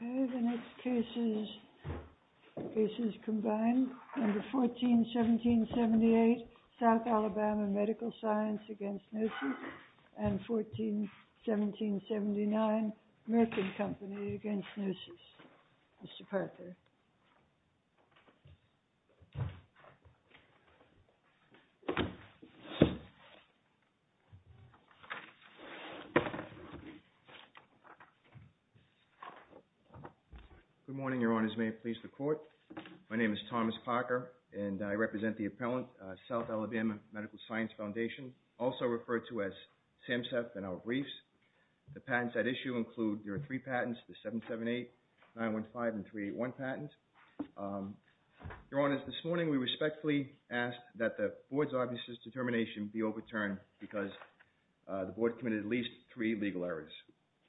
Okay, the next case is, this is computer science v. Gnosis S.P.A. Combined, number 141778, South Alabama Medical Science v. Gnosis S.P.A. and 141779, Merkin Company v. Gnosis S.P.A., Mr. Parther. Good morning, Your Honors, may it please the Court. My name is Thomas Parker, and I represent the appellant, South Alabama Medical Science Foundation, also referred to as SAMHSA, and our briefs. The patents at issue include your three patents, the 778, 915, and 381 patents. Your Honors, this morning we respectfully ask that the Board's obvious determination be overturned because the Board committed at least three legal errors.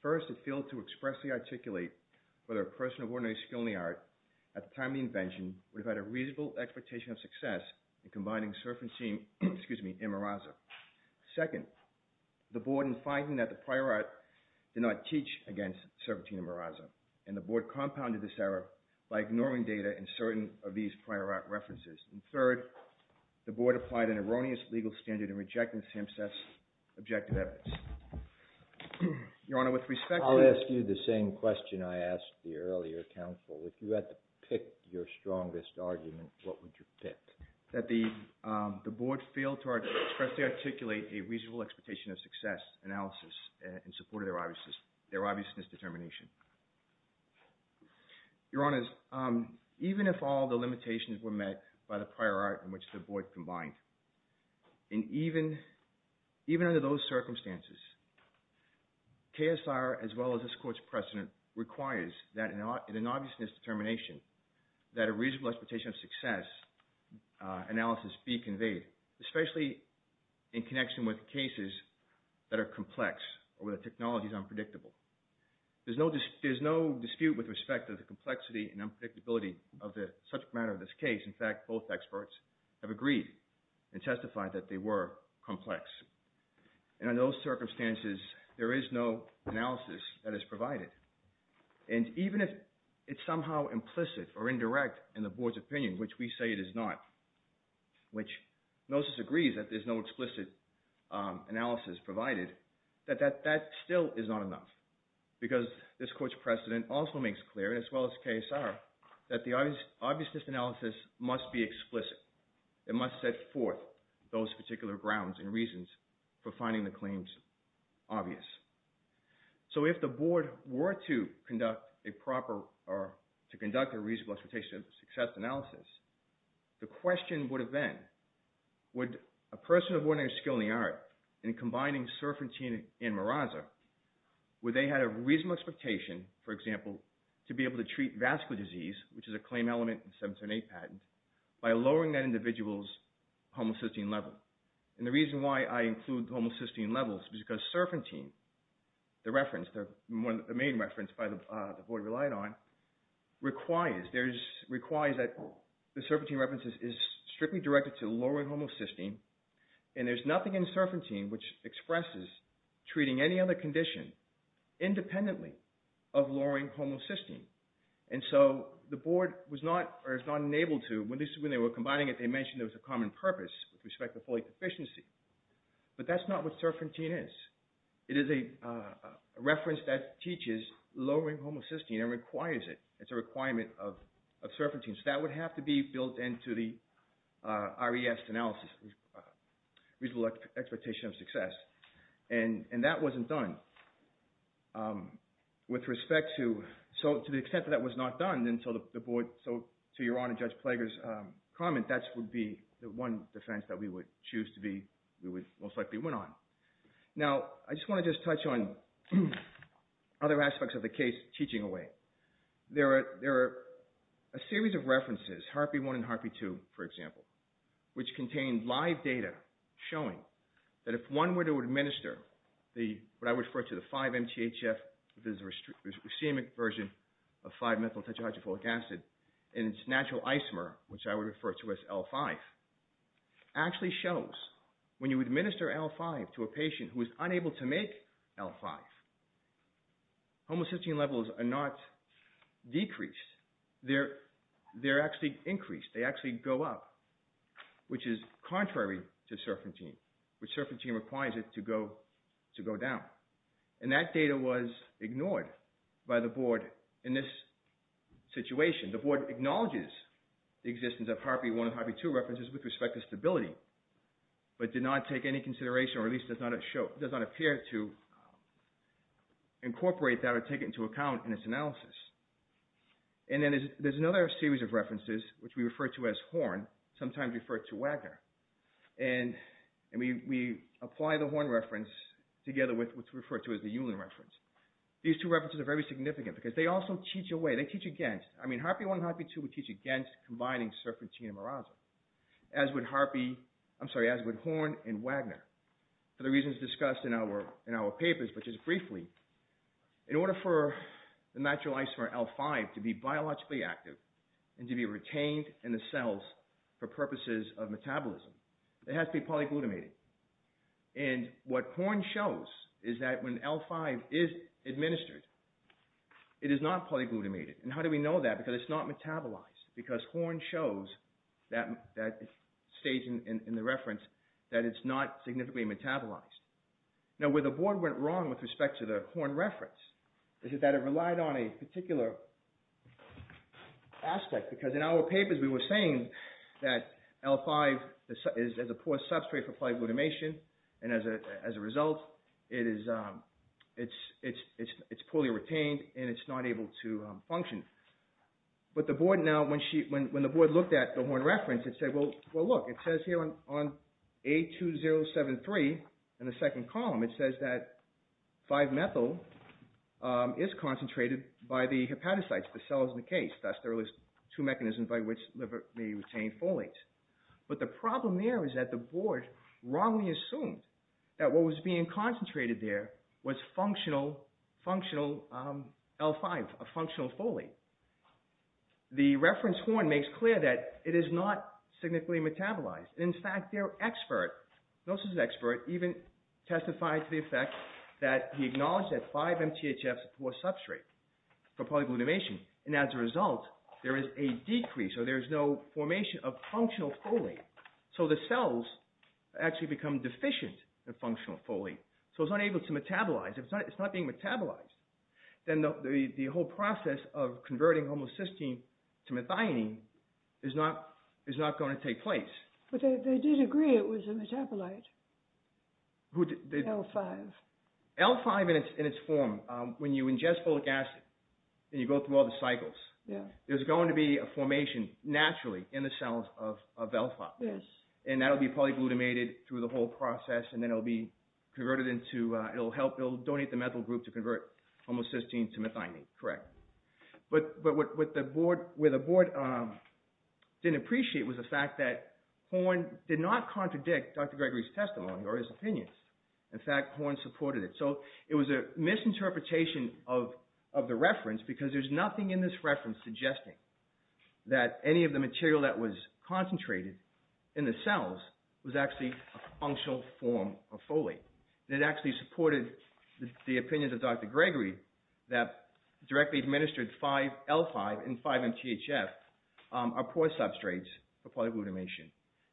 First, it failed to expressly articulate whether a person of ordinary skill in the art, at the time of the invention, would have had a reasonable expectation of success in combining Serpentine, excuse me, in Merasa. Second, the Board, in finding that the prior art did not teach against Serpentine and Merasa, and the Board data in certain of these prior art references. And third, the Board applied an erroneous legal standard in rejecting SAMHSA's objective evidence. Your Honor, with respect... I'll ask you the same question I asked the earlier counsel. If you had to pick your strongest argument, what would you pick? That the Board failed to expressly articulate a reasonable expectation of success analysis in support of their obviousness determination. Your Honors, even if all the limitations were met by the prior art in which the Board combined, and even under those circumstances, KSR, as well as this Court's precedent, requires that in an obviousness determination, that a reasonable expectation of success analysis be conveyed, especially in connection with cases that are acknowledged as unpredictable. There's no dispute with respect to the complexity and unpredictability of the subject matter of this case. In fact, both experts have agreed and testified that they were complex. And under those circumstances, there is no analysis that is provided. And even if it's somehow implicit or indirect in the Board's opinion, which we say it is not, which NOSIS agrees that there's no explicit analysis provided, that that still is not enough. Because this Court's precedent also makes clear, as well as KSR, that the obviousness analysis must be explicit. It must set forth those particular grounds and reasons for finding the claims obvious. So if the Board were to conduct a proper... analysis, the question would have been, would a person of ordinary skill in the art, in combining Serpentine and Meraza, where they had a reasonable expectation, for example, to be able to treat vascular disease, which is a claim element in the 1708 patent, by lowering that individual's homocysteine level. And the reason why I include homocysteine levels is because Serpentine, the reference, the main reference by the Board relied on, requires that the Serpentine reference is strictly directed to lowering homocysteine. And there's nothing in Serpentine which expresses treating any other condition independently of lowering homocysteine. And so the Board was not, or is not enabled to, when they were combining it, they mentioned there was a common purpose with respect to folate deficiency. But that's not what Serpentine is. It is a reference that teaches lowering homocysteine and requires it. It's a requirement of Serpentine. So that would have to be built into the RES analysis, reasonable expectation of success. And that wasn't done. With respect to... so to the extent that that was not done, and so the Board... so to Your Honor, Judge Plager's comment, that would be the one defense that we would choose to be... Now, I just want to just touch on other aspects of the case, teaching away. There are a series of references, Harpy 1 and Harpy 2, for example, which contain live data showing that if one were to administer what I would refer to as the 5-MTHF, the racemic version of 5-methyltetrahydrofolic acid, in its natural isomer, which I would refer to as L5, actually shows when you administer L5 to a patient who is unable to make L5, homocysteine levels are not decreased. They're actually increased. They actually go up, which is contrary to Serpentine, which Serpentine requires it to go down. And that data was ignored by the Board in this situation. The Board acknowledges the existence of Harpy 1 and Harpy 2 references with respect to stability, but did not take any consideration, or at least does not appear to incorporate that or take it into account in its analysis. And then there's another series of references, which we refer to as Horn, sometimes referred to Wagner. And we apply the Horn reference together with what's referred to as the Ulin reference. These two references are very significant, because they also teach away, they teach against, I mean, Harpy 1 and Harpy 2 would teach against combining Serpentine and Meraza, as would Horn and Wagner. For the reasons discussed in our papers, but just briefly, in order for the natural isomer L5 to be biologically active and to be retained in the cells for purposes of metabolism, it has to be polyglutamated. And what Horn shows is that when L5 is administered, it is not polyglutamated. And how do we know that? Because it's not metabolized. Because Horn shows that stage in the reference that it's not significantly metabolized. Now where the Board went wrong with respect to the Horn reference is that it relied on a particular aspect, because in our papers we were saying that L5 is a poor substrate for polyglutamation, and as a result, it's poorly retained, and it's not able to function. But the Board now, when the Board looked at the Horn reference, it said, well, look, it says here on A2073 in the second column, it says that 5-methyl is concentrated by the hepatocytes, the cells in the case. That's the two mechanisms by which liver may retain folate. But the problem there is that the Board wrongly assumed that what was being concentrated there was functional L5, a functional folate. The reference Horn makes clear that it is not significantly metabolized. In fact, their expert, Nelson's expert, even testified to the effect that he acknowledged that 5-MTHF is a poor substrate for polyglutamation, and as a result, there is a decrease, or there is no formation of functional folate. So the cells actually become deficient in functional folate. So it's unable to metabolize. If it's not being metabolized, then the whole process of converting homocysteine to methionine is not going to take place. But they did agree it was a metabolite, L5. L5 in its form, when you ingest folic acid and you go through all the cycles, there's going to be a formation naturally in the cells of L5. And that will be polyglutamated through the whole process, and then it will be converted into, it will help, it will donate the methyl group to convert homocysteine to methionine, correct. But what the Board didn't appreciate was the fact that Horn did not contradict Dr. Gregory's testimony or his opinions. In fact, Horn supported it. So it was a misinterpretation of the reference because there's nothing in this reference suggesting that any of the material that was concentrated in the cells was actually a functional form of folate. It actually supported the opinions of Dr. Gregory that directly administered L5 and 5-MTHF are poor substrates for polyglutamation.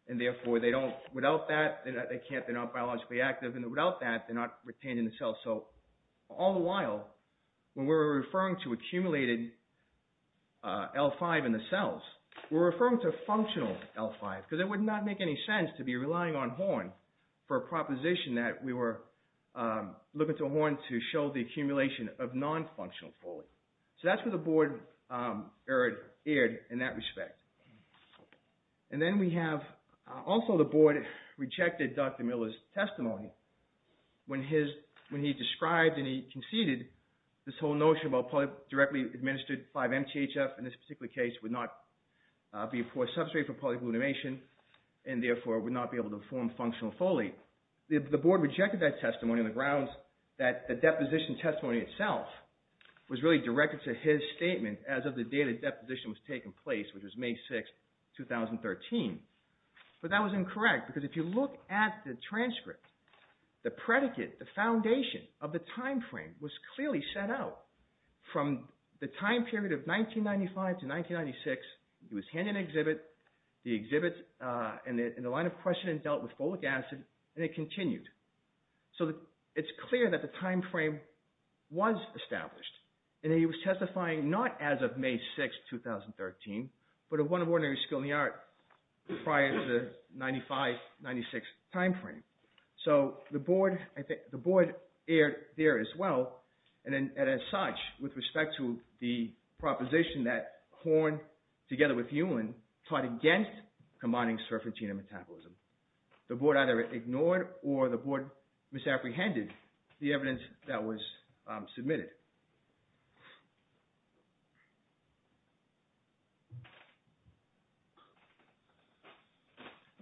And therefore, they don't, without that, they're not biologically active, and without that, they're not retained in the cells. So all the while, when we're referring to accumulated L5 in the cells, we're referring to functional L5 because it would not make any sense to be relying on Horn for a proposition that we were looking to Horn to show the accumulation of non-functional folate. So that's where the Board erred in that respect. And then we have also the Board rejected Dr. Miller's testimony. When he described and he conceded this whole notion about directly administered 5-MTHF in this particular case would not be a poor substrate for polyglutamation and therefore would not be able to form functional folate. The Board rejected that testimony on the grounds that the deposition testimony itself was really directed to his statement as of the day the deposition was taking place, which was May 6, 2013. But that was incorrect because if you look at the transcript, the predicate, the foundation of the time frame was clearly set out from the time period of 1995 to 1996. It was handed an exhibit. The exhibit and the line of questioning dealt with folic acid, and it continued. So it's clear that the time frame was established, and he was testifying not as of May 6, 2013, but at one of Ordinary School in the Art prior to the 1995-96 time frame. So the Board erred there as well, and as such, with respect to the proposition that Horn, together with Heumann, taught against combining surf and genome metabolism. The Board either ignored or the Board misapprehended the evidence that was submitted.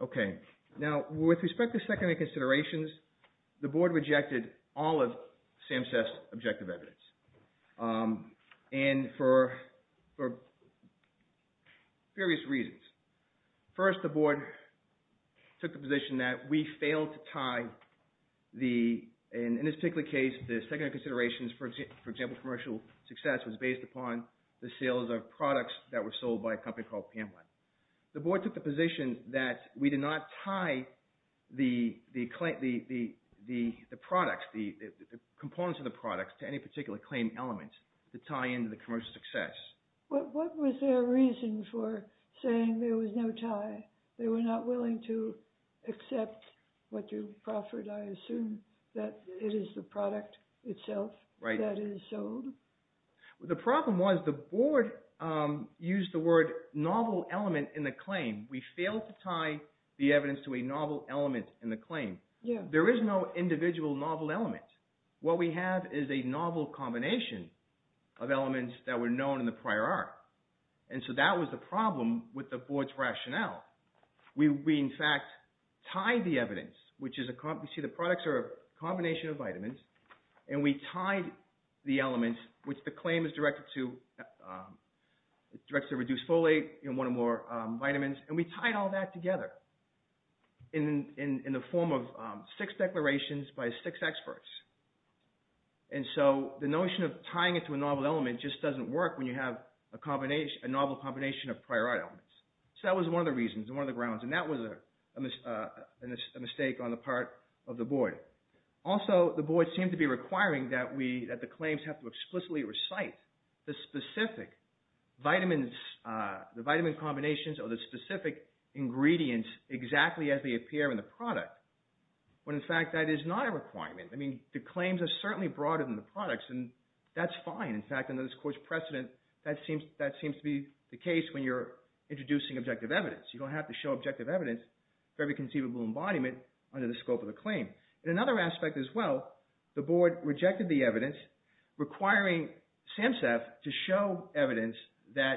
Okay, now with respect to secondary considerations, the Board rejected all of SAMHSA's objective evidence. And for various reasons. First, the Board took the position that we failed to tie the – and in this particular case, the secondary considerations, for example, commercial success, was based upon the sales of products that were sold by a company called Pameline. The Board took the position that we did not tie the products, the components of the products, to any particular claim element to tie into the commercial success. What was their reason for saying there was no tie? They were not willing to accept what you proffered, I assume, that it is the product itself that is sold? The problem was the Board used the word novel element in the claim. We failed to tie the evidence to a novel element in the claim. There is no individual novel element. What we have is a novel combination of elements that were known in the prior art. And so that was the problem with the Board's rationale. We, in fact, tied the evidence, which is – you see the products are a combination of vitamins. And we tied the elements, which the claim is directed to reduce folate and one or more vitamins. And we tied all that together in the form of six declarations by six experts. And so the notion of tying it to a novel element just doesn't work when you have a novel combination of prior art elements. So that was one of the reasons, one of the grounds. And that was a mistake on the part of the Board. Also, the Board seemed to be requiring that the claims have to explicitly recite the specific vitamins – the vitamin combinations or the specific ingredients exactly as they appear in the product, when, in fact, that is not a requirement. I mean, the claims are certainly broader than the products, and that's fine. In fact, under this Court's precedent, that seems to be the case when you're introducing objective evidence. You don't have to show objective evidence for every conceivable embodiment under the scope of the claim. In another aspect as well, the Board rejected the evidence requiring SAMHSA to show evidence that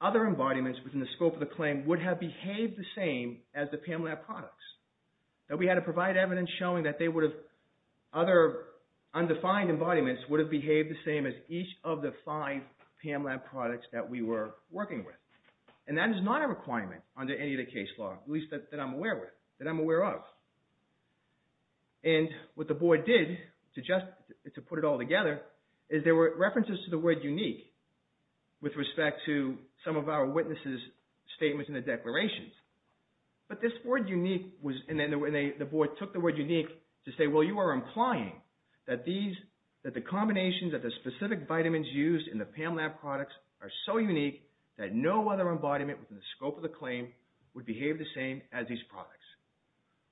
other embodiments within the scope of the claim would have behaved the same as the PAMLAB products. That we had to provide evidence showing that they would have – other undefined embodiments would have behaved the same as each of the five PAMLAB products that we were working with. And that is not a requirement under any of the case law, at least that I'm aware of. And what the Board did, to put it all together, is there were references to the word unique with respect to some of our witnesses' statements in the declarations. But this word unique was – and then the Board took the word unique to say, well, you are implying that these – that the combinations of the specific vitamins used in the PAMLAB products are so unique that no other embodiment within the scope of the claim would behave the same as these products.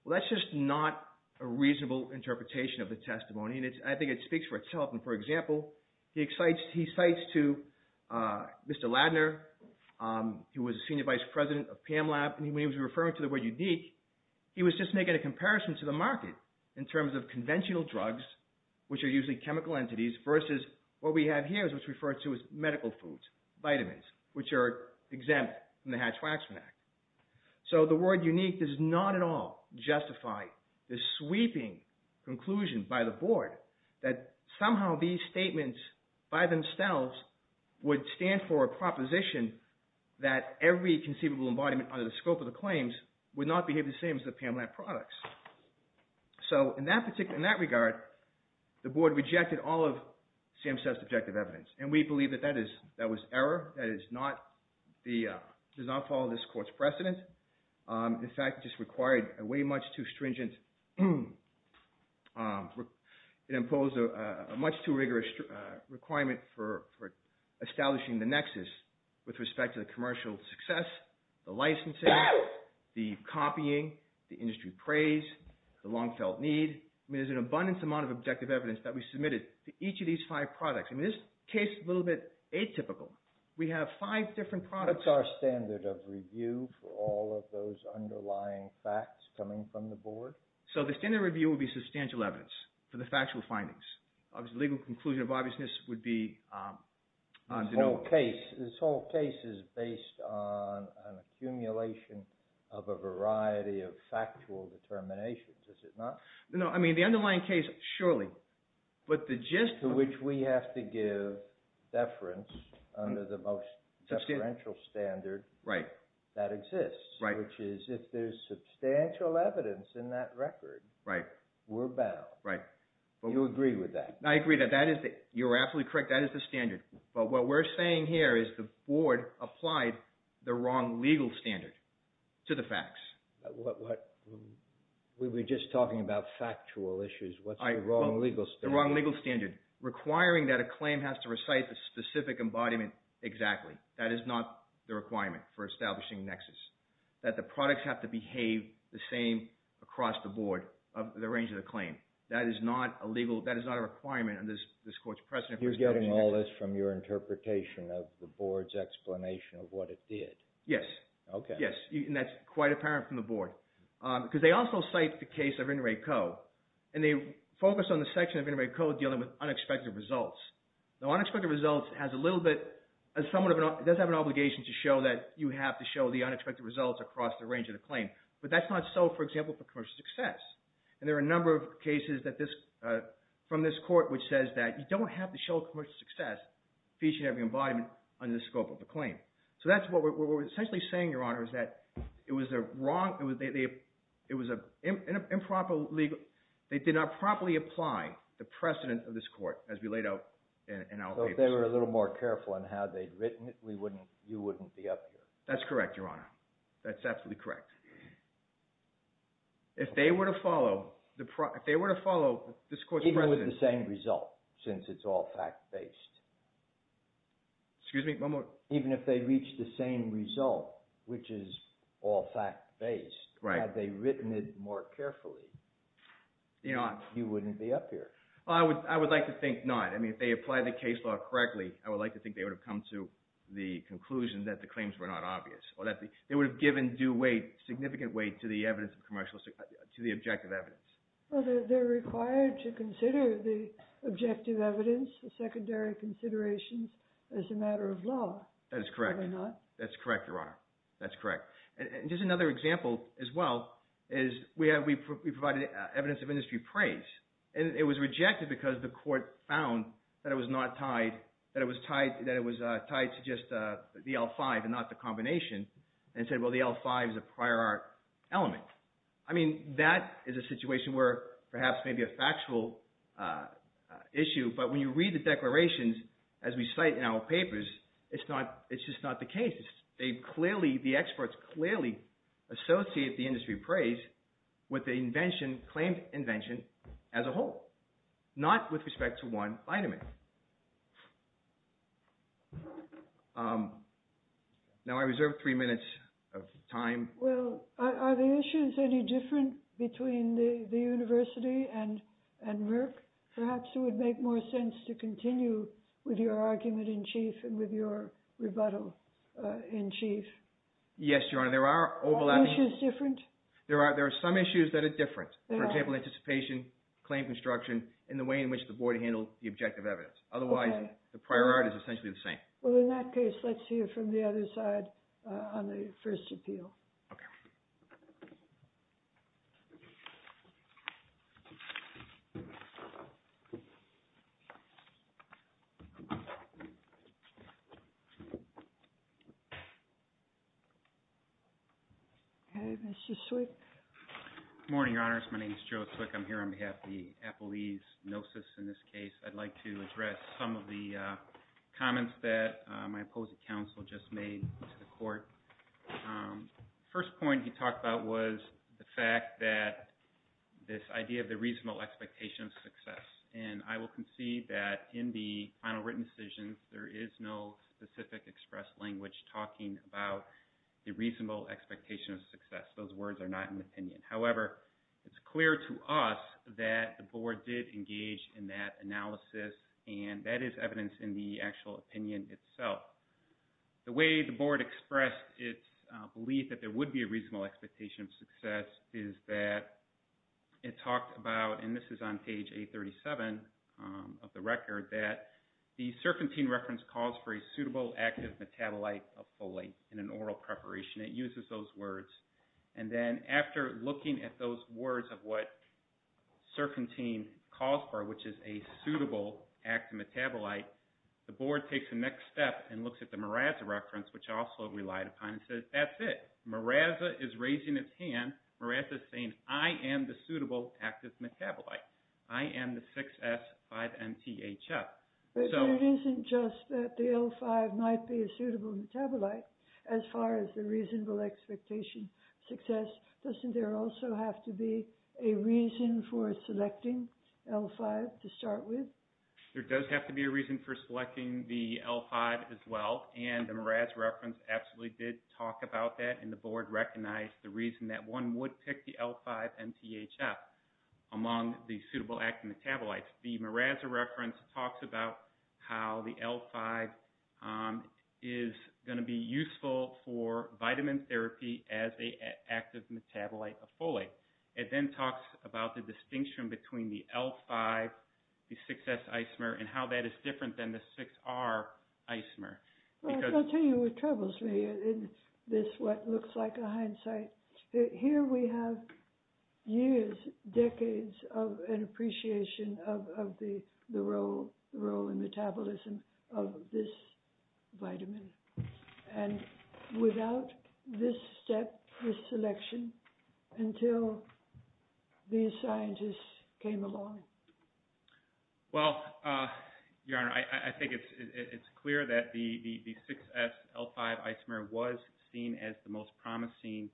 Well, that's just not a reasonable interpretation of the testimony and I think it speaks for itself. And for example, he cites to Mr. Ladner, who was the Senior Vice President of PAMLAB, and when he was referring to the word unique, he was just making a comparison to the market in terms of conventional drugs, which are usually chemical entities, versus what we have here, which is referred to as medical foods, vitamins, which are exempt from the Hatch-Waxman Act. So the word unique does not at all justify the sweeping conclusion by the Board that somehow these statements by themselves would stand for a proposition that every conceivable embodiment under the scope of the claims would not behave the same as the PAMLAB products. So in that particular – in that regard, the Board rejected all of Sam's subjective evidence and we believe that that is – that was error, that is not the – does not follow this Court's precedent. In fact, it just required a way much too stringent – it imposed a much too rigorous requirement for establishing the nexus with respect to the commercial success, the licensing, the copying, the industry praise, the long-felt need. I mean, there's an abundance amount of objective evidence that we submitted to each of these five products. I mean, this case is a little bit atypical. We have five different products. What's our standard of review for all of those underlying facts coming from the Board? So the standard review would be substantial evidence for the factual findings. Obviously, the legal conclusion of obviousness would be – This whole case is based on an accumulation of a variety of factual determinations, is it not? No, I mean, the underlying case, surely. But the gist – To which we have to give deference under the most substantial standard that exists, which is if there's substantial evidence in that record, we're bound. You agree with that? I agree that that is – you're absolutely correct, that is the standard. But what we're saying here is the Board applied the wrong legal standard to the facts. We were just talking about factual issues. What's the wrong legal standard? The wrong legal standard. Requiring that a claim has to recite the specific embodiment exactly. That is not the requirement for establishing a nexus. That the products have to behave the same across the Board of the range of the claim. That is not a legal – that is not a requirement under this Court's precedent for establishing a nexus. You're getting all this from your interpretation of the Board's explanation of what it did? Yes. Okay. Yes, and that's quite apparent from the Board. Because they also cite the case of In re Co. And they focus on the section of In re Co. dealing with unexpected results. Now, unexpected results has a little bit – it does have an obligation to show that you have to show the unexpected results across the range of the claim. But that's not so, for example, for commercial success. And there are a number of cases that this – from this Court which says that you don't have to show commercial success featuring every embodiment under the scope of the claim. So that's what we're essentially saying, Your Honor, is that it was a wrong – it was an improper legal – they did not properly apply the precedent of this Court as we laid out in our papers. So if they were a little more careful in how they'd written it, we wouldn't – you wouldn't be up here. That's correct, Your Honor. That's absolutely correct. If they were to follow the – if they were to follow this Court's precedent – Even with the same result, since it's all fact-based. Excuse me, one more. Even if they reached the same result, which is all fact-based, had they written it more carefully, you wouldn't be up here. I would like to think not. I mean, if they applied the case law correctly, I would like to think they would have come to the conclusion that the claims were not obvious or that they would have given due weight, significant weight to the evidence of commercial – to the objective evidence. Well, they're required to consider the objective evidence, the secondary considerations, as a matter of law. That is correct. Are they not? That's correct, Your Honor. That's correct. And just another example as well is we have – we provided evidence of industry praise. And it was rejected because the Court found that it was not tied – that it was tied to just the L-5 and not the combination and said, well, the L-5 is a prior art element. I mean, that is a situation where perhaps maybe a factual issue, but when you read the declarations as we cite in our papers, it's not – it's just not the case. They clearly – the experts clearly associate the industry praise with the invention – claimed invention as a whole, not with respect to one vitamin. Now, I reserve three minutes of time. Well, are the issues any different between the university and Merck? Perhaps it would make more sense to continue with your argument in chief and with your rebuttal in chief. Yes, Your Honor. There are overlapping – Are the issues different? There are – there are some issues that are different. There are. For example, anticipation, claim construction, and the way in which the Board handled the objective evidence. Okay. Otherwise, the prior art is essentially the same. Well, in that case, let's hear from the other side on the first appeal. Okay. Okay, Mr. Swick. Good morning, Your Honors. My name is Joe Swick. I'm here on behalf of the Appellee's Gnosis. In this case, I'd like to address some of the comments that my opposing counsel just made to the court. First point he talked about was the fact that expectation of success. And I will concede that in the final written decision, there is no expectation of success. There is no specific expressed language talking about the reasonable expectation of success. Those words are not in the opinion. However, it's clear to us that the Board did engage in that analysis, and that is evidence in the actual opinion itself. The way the Board expressed its belief that there would be a reasonable expectation of success is that it talked about – and this is on page 837 of the record – that the serpentine reference calls for a suitable active metabolite of folate in an oral preparation. It uses those words. And then after looking at those words of what serpentine calls for, which is a suitable active metabolite, the Board takes the next step and looks at the mirasa reference, which I also relied upon, and says, that's it. Mirasa is raising its hand. Mirasa is saying, I am the suitable active metabolite. I am the 6S5MTHF. It isn't just that the L5 might be a suitable metabolite as far as the reasonable expectation of success. Doesn't there also have to be a reason for selecting L5 to start with? There does have to be a reason for selecting the L5 as well, and the mirasa reference absolutely did talk about that and the Board recognized the reason that one would pick the L5MTHF among the suitable active metabolites. The mirasa reference talks about how the L5 is going to be useful for vitamin therapy as an active metabolite of folate. It then talks about the distinction between the L5, the 6S isomer, and how that is different than the 6R isomer. I'll tell you what troubles me in this, what looks like a hindsight. Here we have years, decades, of an appreciation of the role in metabolism of this vitamin. And without this step, this selection, until these scientists came along. Well, Your Honor, I think it's clear that the 6S L5 isomer was seen as the most promising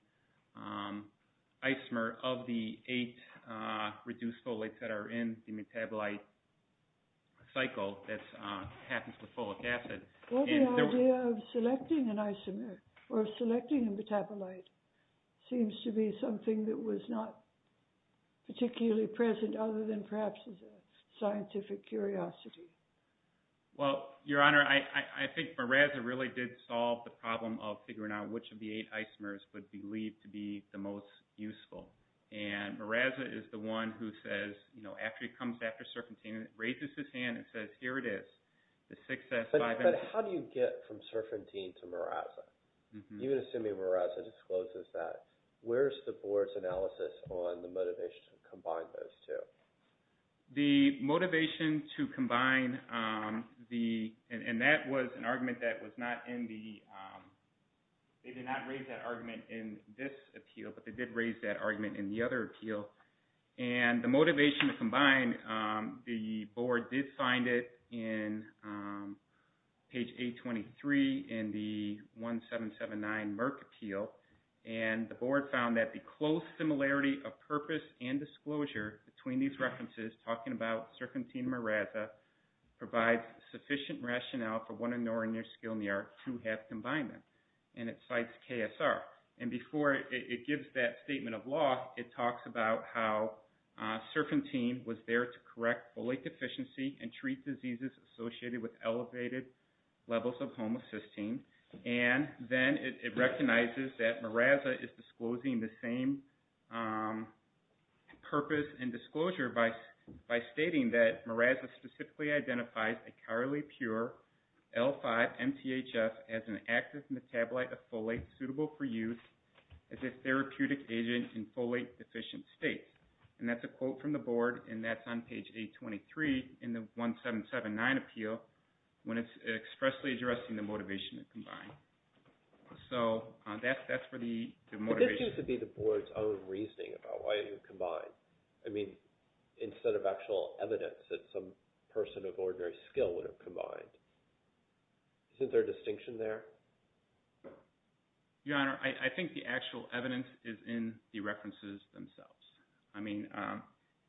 isomer of the eight reduced folates that are in the metabolite cycle that happens with folic acid. Well, the idea of selecting an isomer or selecting a metabolite seems to be something that was not particularly present other than perhaps as a scientific curiosity. Well, Your Honor, I think mirasa really did solve the problem of figuring out which of the eight isomers would be believed to be the most useful. And mirasa is the one who says after he comes after serpentine and raises his hand and says, here it is, the 6S L5. But how do you get from serpentine to mirasa? You would assume that mirasa discloses that. Where is the board's analysis on the motivation to combine those two? The motivation to combine the, and that was an argument that was not in the, they did not raise that argument in this appeal, but they did raise that argument in the other appeal. And the motivation to combine the board did find it in page 823 in the 1779 Merck Appeal. And the board found that the close similarity of purpose and disclosure between these references talking about serpentine mirasa provides sufficient rationale for one and nor in their skill in the art to have combined them. And it cites KSR. And before it gives that statement of law it talks about how serpentine was there to correct folate deficiency and treat diseases associated with elevated levels of homocysteine. And then it recognizes that mirasa is disclosing the same purpose and disclosure by stating that mirasa specifically identifies a Carly Pure L5 MTHF as an active metabolite of folate and suitable for use as a therapeutic agent in folate deficient states. And that's a quote from the board and that's on page 823 in the 1779 appeal when it's expressly addressing the motivation to combine. So that's for the motivation. But this needs to be the board's own reasoning about why it would combine. I mean instead of looking at the actual evidence that some person of ordinary skill would have combined. Is there a distinction there? Your Honor, I think the actual evidence is in the references themselves. I mean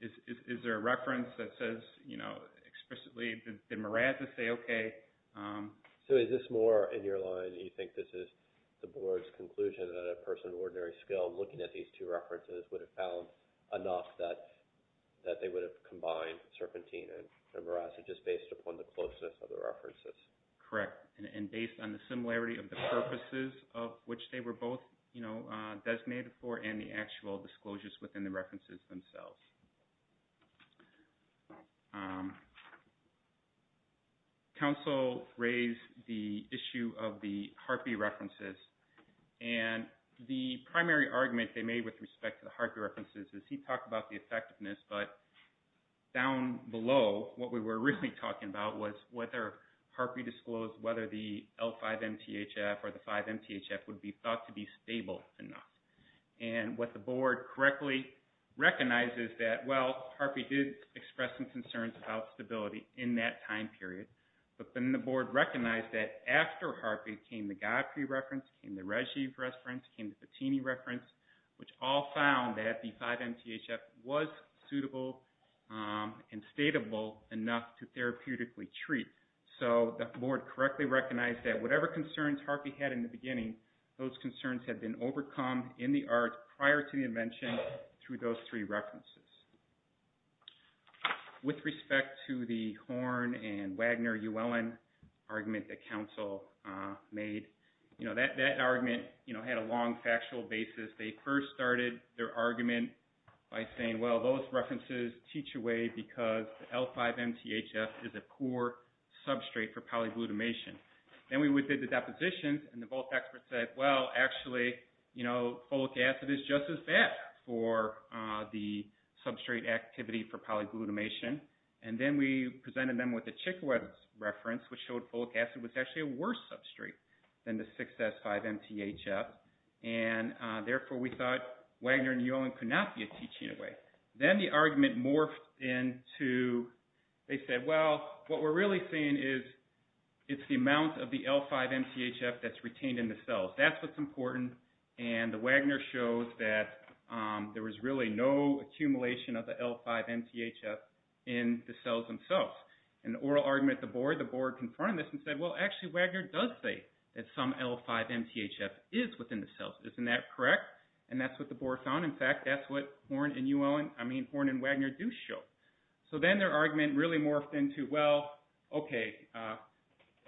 is there a reference that says you know explicitly that mirasa say okay so is this more in your line you think this is the board's conclusion that a person of ordinary skill looking at these two references would have found enough that they would have combined serpentine and mirasa just based upon the closeness of the references. Correct. And based on the similarity of the purposes of which they were both you know designated for and the actual disclosures within the references themselves. Counsel raised the issue of the Harpe references and the primary argument they made with respect to the Harpe references is he talked about the effectiveness but down to be stable enough. And what the board correctly recognizes that well Harpe did express some concerns about stability in that time period but then the board recognized that after Harpe came the Godfrey reference came the Reggie reference came the Patini reference which all found that the 5 MTHF was suitable and stateable enough to therapeutically treat. So the board correctly recognized that whatever concerns Harpe had in the beginning those concerns had been overcome in the arts prior to the invention through those three references. With respect to the Horne and Wagner Uellen argument that council made that argument had a long factual basis they first started their argument by saying well those references teach away because L5 MTHF is a poor substrate for polyglutamation. Then we did the depositions and the both experts said well actually you know folic acid is just as bad for the substrate activity for polyglutamation and then we presented them with the Chikwe reference which showed folic acid was actually a worse substrate than the 6S5 MTHF and therefore we thought Wagner and Uellen could not be a teaching away. Then the argument morphed into they said well what we're really saying is it's the amount of the L5 MTHF that's retained in the cells that's what's important and the Wagner shows that there was really no accumulation of the L5 MTHF in the cells themselves and the oral argument the board the board confirmed this and said well actually Wagner does say that some L5 MTHF is within the cells isn't that correct? And that's what the board found in fact that's what Horne and Uellen I mean Horne and Wagner do show so then their argument really morphed into well okay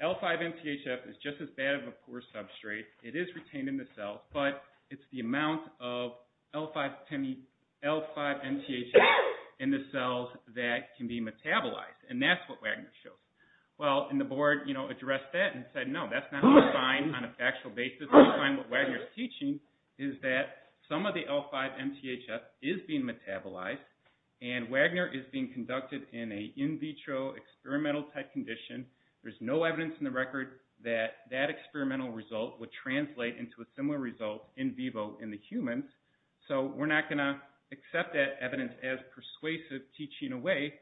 L5 MTHF is just as bad of a poor substrate it is retained in the cells but it's the amount of L5 MTHF in the cells that can be metabolized and that's what Wagner shows well and the board addressed that and said no that's not on a factual basis what Wagner is teaching is that some of the L5 MTHF is being metabolized and Wagner is being conducted in a in vitro experimental type condition there's no evidence in the record that that experimental result would translate into a similar result in vivo in the humans so we're not going to accept that evidence as persuasive teaching away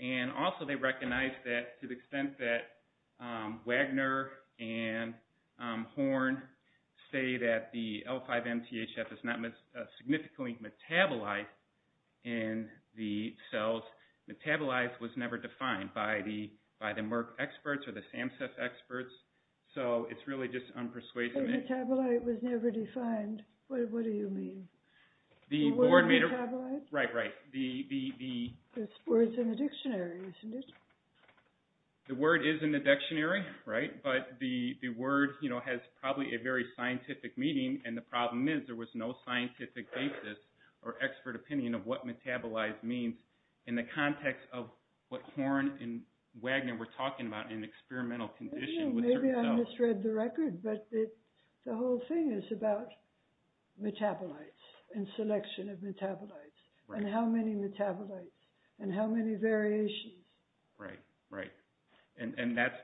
and also they recognize that to the extent that Wagner and Horn say that the L5 MTHF is not significantly metabolized in the cells metabolized was never defined by the Merck experts or the SAMHSA experts so it's really just unpersuasive metabolized was never defined what do you mean the word metabolized right the words in the dictionary isn't it the word is in the dictionary right but the word has probably a very scientific meaning and the problem is there was no scientific basis or expert opinion of what metabolized means in the context of what Horn and Wagner were talking about in experimental conditions maybe I misread the record but the whole thing is about metabolites and selection of metabolites and how many metabolites and how many variations right right and that's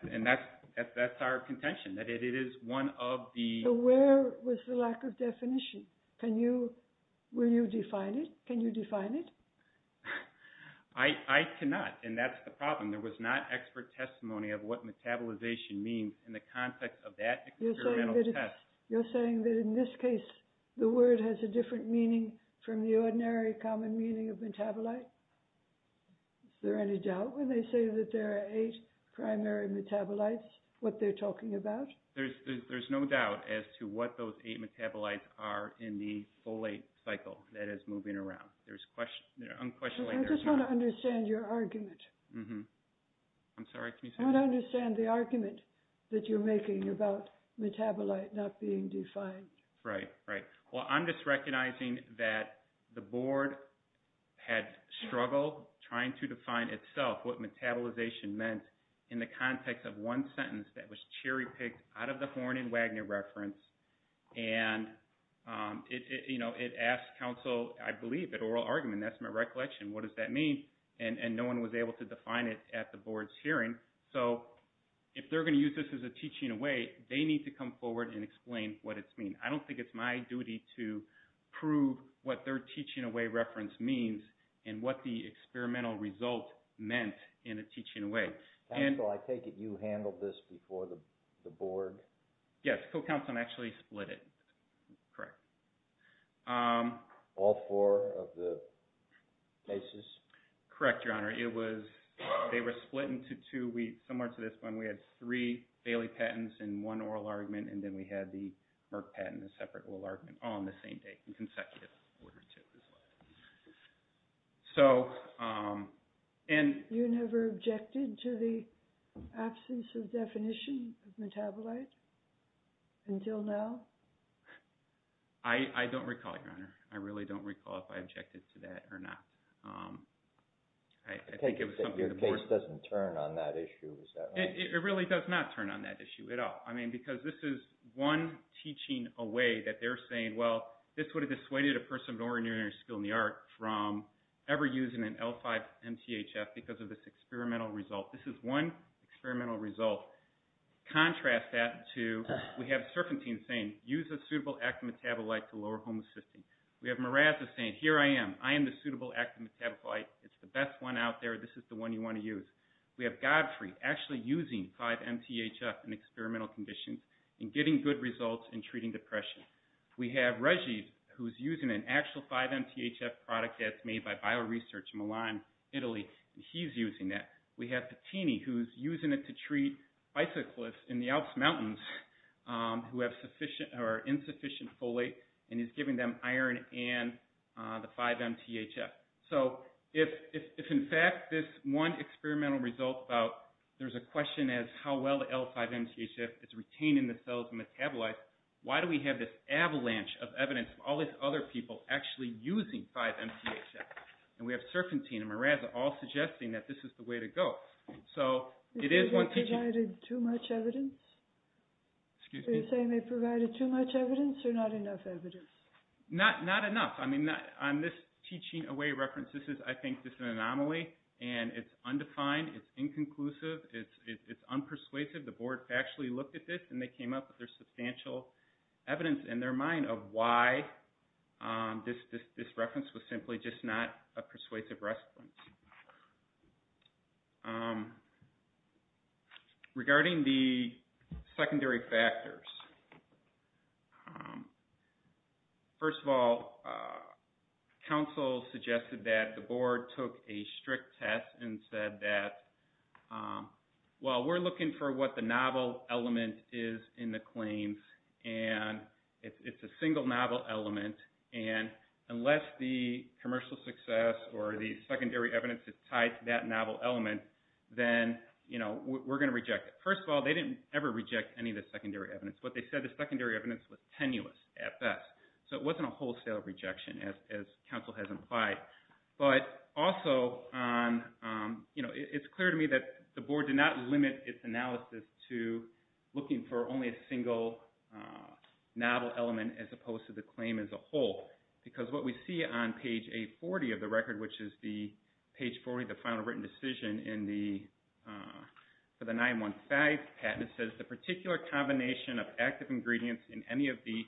our contention that it is one of the where was the lack of I cannot and that's the problem there was not expert testimony of what metabolization means in the context of that experimental test you're saying that in this case the word has a different meaning from the ordinary common meaning of metabolite is there any doubt when they say that there are 8 primary metabolites what they're talking about there's no doubt as to what those 8 metabolites are in the folate cycle that is moving around there's unquestionably I just want to understand your argument I'm sorry I want to understand the argument that you're making about metabolite not being defined right right well I'm just recognizing that the word metabolization meant in the context of one sentence that was cherry picked out of the horn and Wagner reference and it asked counsel I believe that oral argument that's my recollection what does that mean and no one was able to define it at the board's hearing so if they're able to come forward and explain what it means I don't think it's my duty to prove what their teaching away reference means and what the experimental result meant in a teaching away counsel I take it you handled this before the board yes co-counsel actually split it correct all four of the cases correct your honor it was they were split into two similar to this one we had three Bailey patents and one oral argument and then we had the Merck patent a separate oral argument all on the same day in consecutive order too so and you never objected to the absence of definition of metabolite until now I don't recall your honor I really don't recall if I objected to that or not I think it was something the board your case doesn't turn on that issue it really does not turn on that issue at all I mean because this is one teaching away that they're saying well this would have dissuaded a person with an ordinary skill in the art from ever using an L5 MTHF because of this experimental result this is one experimental result contrast that to we have Serpentine saying use a suitable active metabolite to lower homocysteine we have Miraza saying here I am I am the suitable active metabolite it's the best one out there this is the one you want to use we have Godfrey actually using 5 MTHF in experimental conditions and getting good results in treating depression we have Reggie who's using an actual 5 MTHF it's a product that's made by BioResearch Milan Italy he's using that we have Patini who's using it to treat bicyclists in the Alps mountains who have insufficient folate and he's giving them iron and the 5 MTHF so if in fact this one experimental result about there's a question as how well the L5 MTHF is retaining the cells and metabolize why do we have this avalanche of evidence of all these other people actually using 5 MTHF and we have Serpentine and Miraza all suggesting that this is the way to go so it is one teaching too much evidence are you saying they provided too much evidence or not enough evidence not enough I mean on this teaching away there's substantial evidence in their mind of why this reference was simply just not a persuasive reference regarding the secondary factors first of all counsel suggested that the board took a strict test and said that well we're looking for what the novel element is in the claims and it's a single novel element and unless the commercial success or the secondary evidence is tied to that novel element then you know we're going to reject it first of all they didn't ever reject any of the secondary evidence but they said the secondary evidence was tenuous at best so it wasn't a wholesale rejection as counsel has implied but also on you know it's clear to me that the board did not limit its analysis to looking for only a single novel element as opposed to the claim as a whole because what we see on page 840 of the record which is the page 40 the final written decision for the 915 patent it says the particular combination of active ingredients in any of the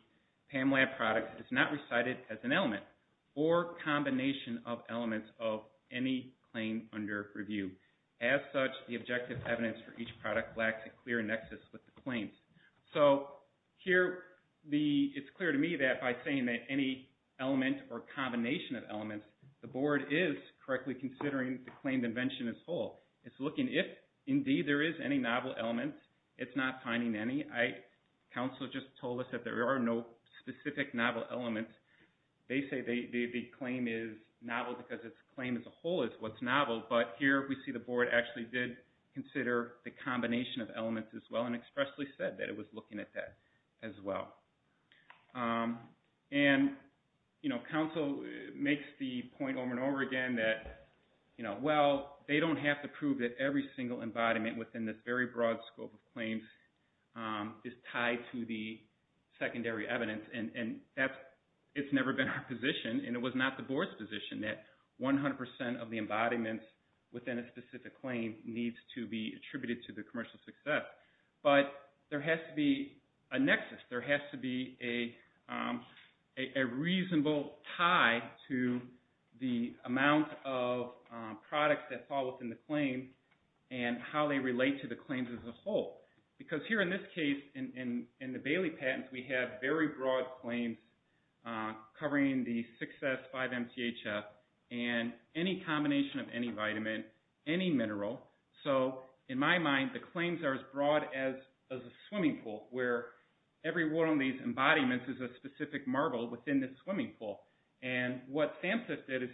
PAMLAB products is not recited as an element or combination of elements of any claim under review as such the objective evidence for each product lacks a clear nexus with the claims so here it's clear to me that by saying that any element or combination of elements the board is correctly considering the claimed invention as a whole it's looking if indeed there is any novel element it's not finding any counsel just told us that there are no specific novel elements they say the claim is novel because it's claim as a whole is what's novel but here we see the board actually did consider the combination of elements as well and expressly said that it was looking at that as well and you know counsel makes the point over and over again that you know well they don't have to prove that every single embodiment within this very broad scope of claims is tied to the secondary evidence and that's it's never been our position and it was not the board's position that 100% of the embodiment within a specific claim needs to be attributed to the commercial success but there has to be a nexus there has to be a reasonable tie to the amount of products that fall within the claim and how they relate to the claims as a whole because here in this case in the Bailey patents we have very broad claims covering the success 5MTHF and any combination of any vitamin any mineral so in my mind the claims are as broad as a swimming pool where every one of these embodiments is a specific marble within this swimming pool and what SAMHSA did is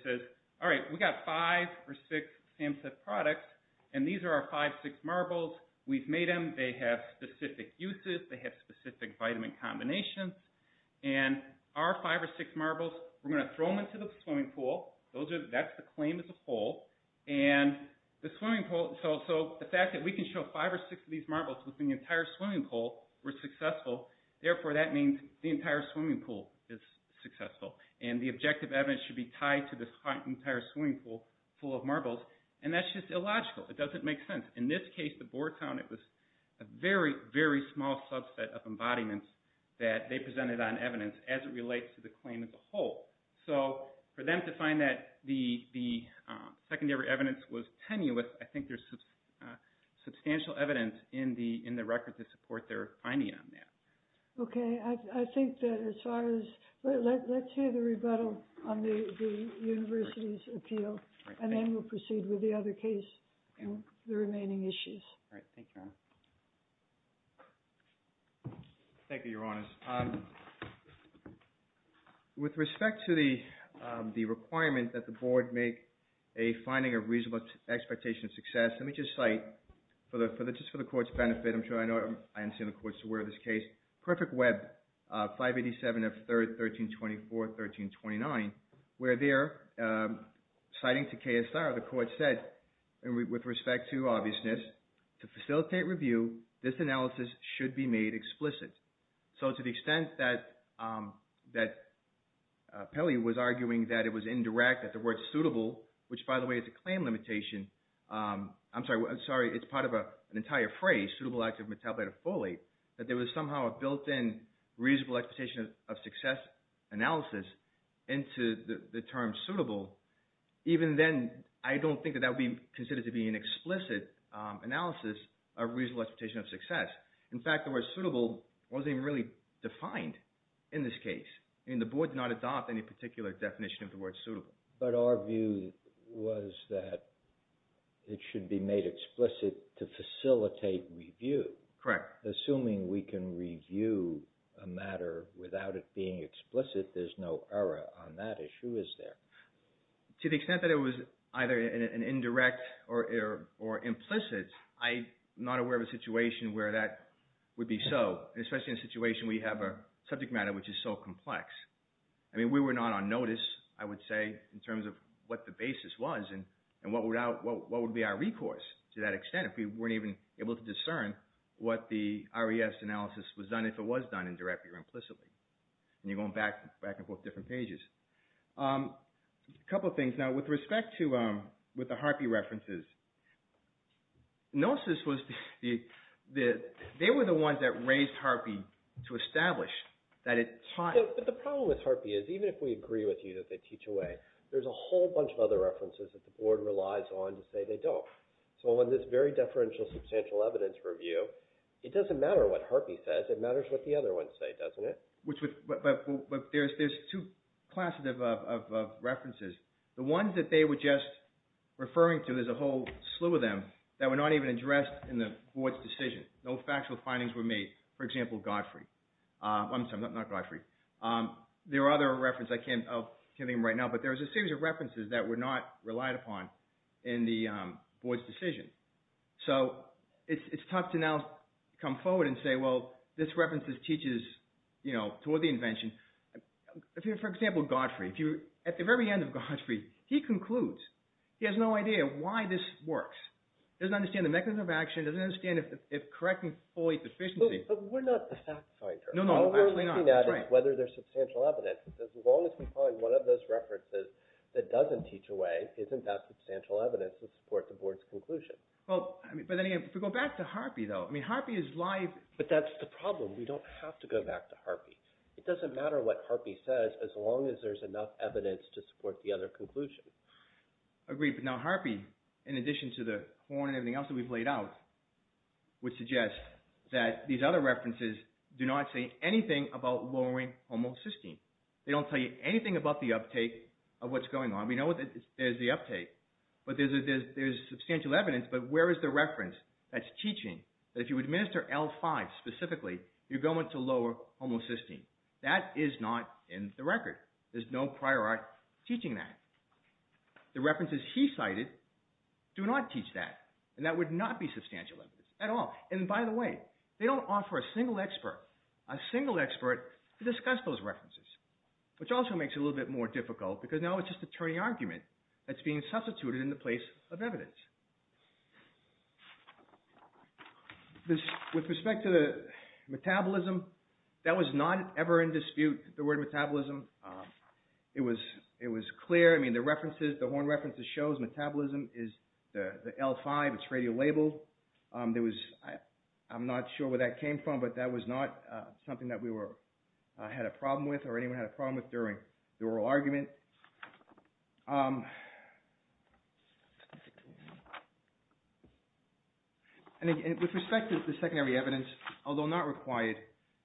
we got 5 or 6 SAMHSA products and these are our 5 or 6 marbles we've made them they have specific uses they have specific vitamin combinations and our 5 or 6 marbles we're going to throw them into the swimming pool that's the claim as a whole and the fact that we can show 5 or 6 of these marbles within the entire swimming pool is successful and the objective evidence should be tied to the entire swimming pool full in this case the Boar Town it was a very very small subset of embodiments that they presented on evidence as it relates to the claim as a whole so for them to find that the secondary evidence was tenuous I think there's substantial evidence in the records that support their finding on that okay I think that as far as let's hear the rebuttal on the university's appeal and then we'll proceed with the other case and the remaining issues thank you your honor with respect to the requirement that the board make a finding of reasonable expectation of success let me just cite just for the court's benefit I'm sure I know I understand the courts are aware of this case perfect web 587 of 13-24 13-29 where there citing to KSR the court said with respect to obviousness to facilitate review this analysis should be a reasonable expectation of success analysis into the term suitable even then I don't think that that would be considered to be an explicit analysis a reasonable expectation of success in fact the word suitable wasn't really defined in this case and the board did not adopt any particular definition of the word suitable but our view was that it should be made explicit to facilitate review correct assuming we can review a matter without it being explicit there's no error on that issue is there to the extent that it was either an indirect or implicit I'm not aware of a situation where that would be so especially in a situation we have a subject matter which is so in terms of what the basis was and what would be our recourse to that extent if we weren't even able to discern what the RES analysis was done if it was done indirectly or implicitly and you're going back and forth different pages now with respect to the Harpy references Gnosis was they were the ones that raised Harpy to establish that it taught but the problem with Harpy is even if we agree with you that they teach away there's a whole bunch of other references that the board relies on to say they don't so on this very deferential substantial evidence review it doesn't matter what Harpy says it matters what the other ones say doesn't it there's two classes of references the ones that they were just referring to there's a whole slew of them that were not even addressed in the board's decision no factual findings were made for example Godfrey I'm sorry not Godfrey there are other references I can't name right now but there's a series of references that were not relied upon in the board's decision so it's tough to now come forward and say well this reference teaches you know toward the invention for example Godfrey at the very end of Godfrey he concludes he has no idea why this works doesn't understand the mechanism of action doesn't understand if correcting fully is efficient but we're not the fact finder all we're looking at is whether there's substantial evidence as long as we find one of those references that doesn't teach away isn't that substantial evidence to support the board's conclusion but then again if we go back to Harpy though I mean Harpy is live but that's the problem we don't have to go back to Harpy it doesn't matter what Harpy says as long as there's enough evidence to support the other conclusion agreed but now Harpy in addition to the horn and everything else we've laid out would suggest that these other references do not say anything about lowering homocysteine they don't tell you anything about the uptake of what's going on we know there's the uptake but there's substantial evidence but where is the uptake and why specifically you're going to lower homocysteine that is not in the record there's no prior art teaching that the references he cited do not teach that and that would not be substantial evidence at all and by the way they don't offer a single expert a single expert to discuss those references which also makes it a little bit more difficult because now it's just a turning argument that's being argued so the metabolism that was not ever in dispute the word metabolism it was it was clear I mean the references the horn references shows metabolism is the L5 it's radio labeled there was I'm not sure where that came from but that was not something that we were had a problem with or anyone had a problem with during the oral argument and with respect to the secondary evidence although not required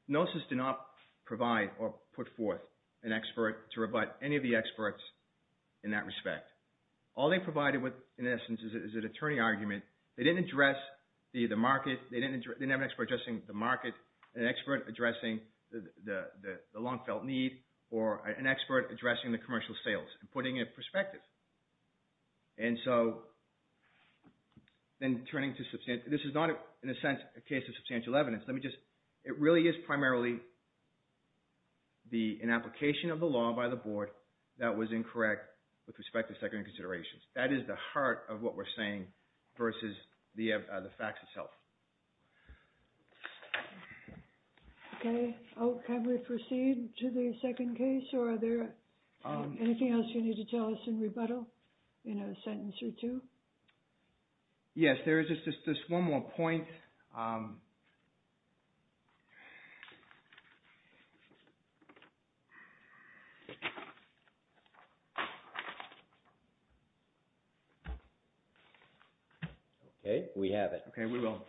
Gnosis did not provide or put forth an expert to rebut any of the experts in that respect all they provided in essence is an attorney argument they didn't address the market they didn't have an expert addressing the market an expert addressing the long felt need or an expert addressing the commercial sales and putting it in perspective and so then turning to substantial this is not in a sense a case of substantial evidence let me just it really is primarily the an application of the law by the board that was incorrect with respect to secondary considerations that is the heart of what we're saying versus the facts itself okay can we proceed to the second case or are there anything else that you need to tell us in rebuttal in a sentence or two yes there is just one more point okay we have it okay we will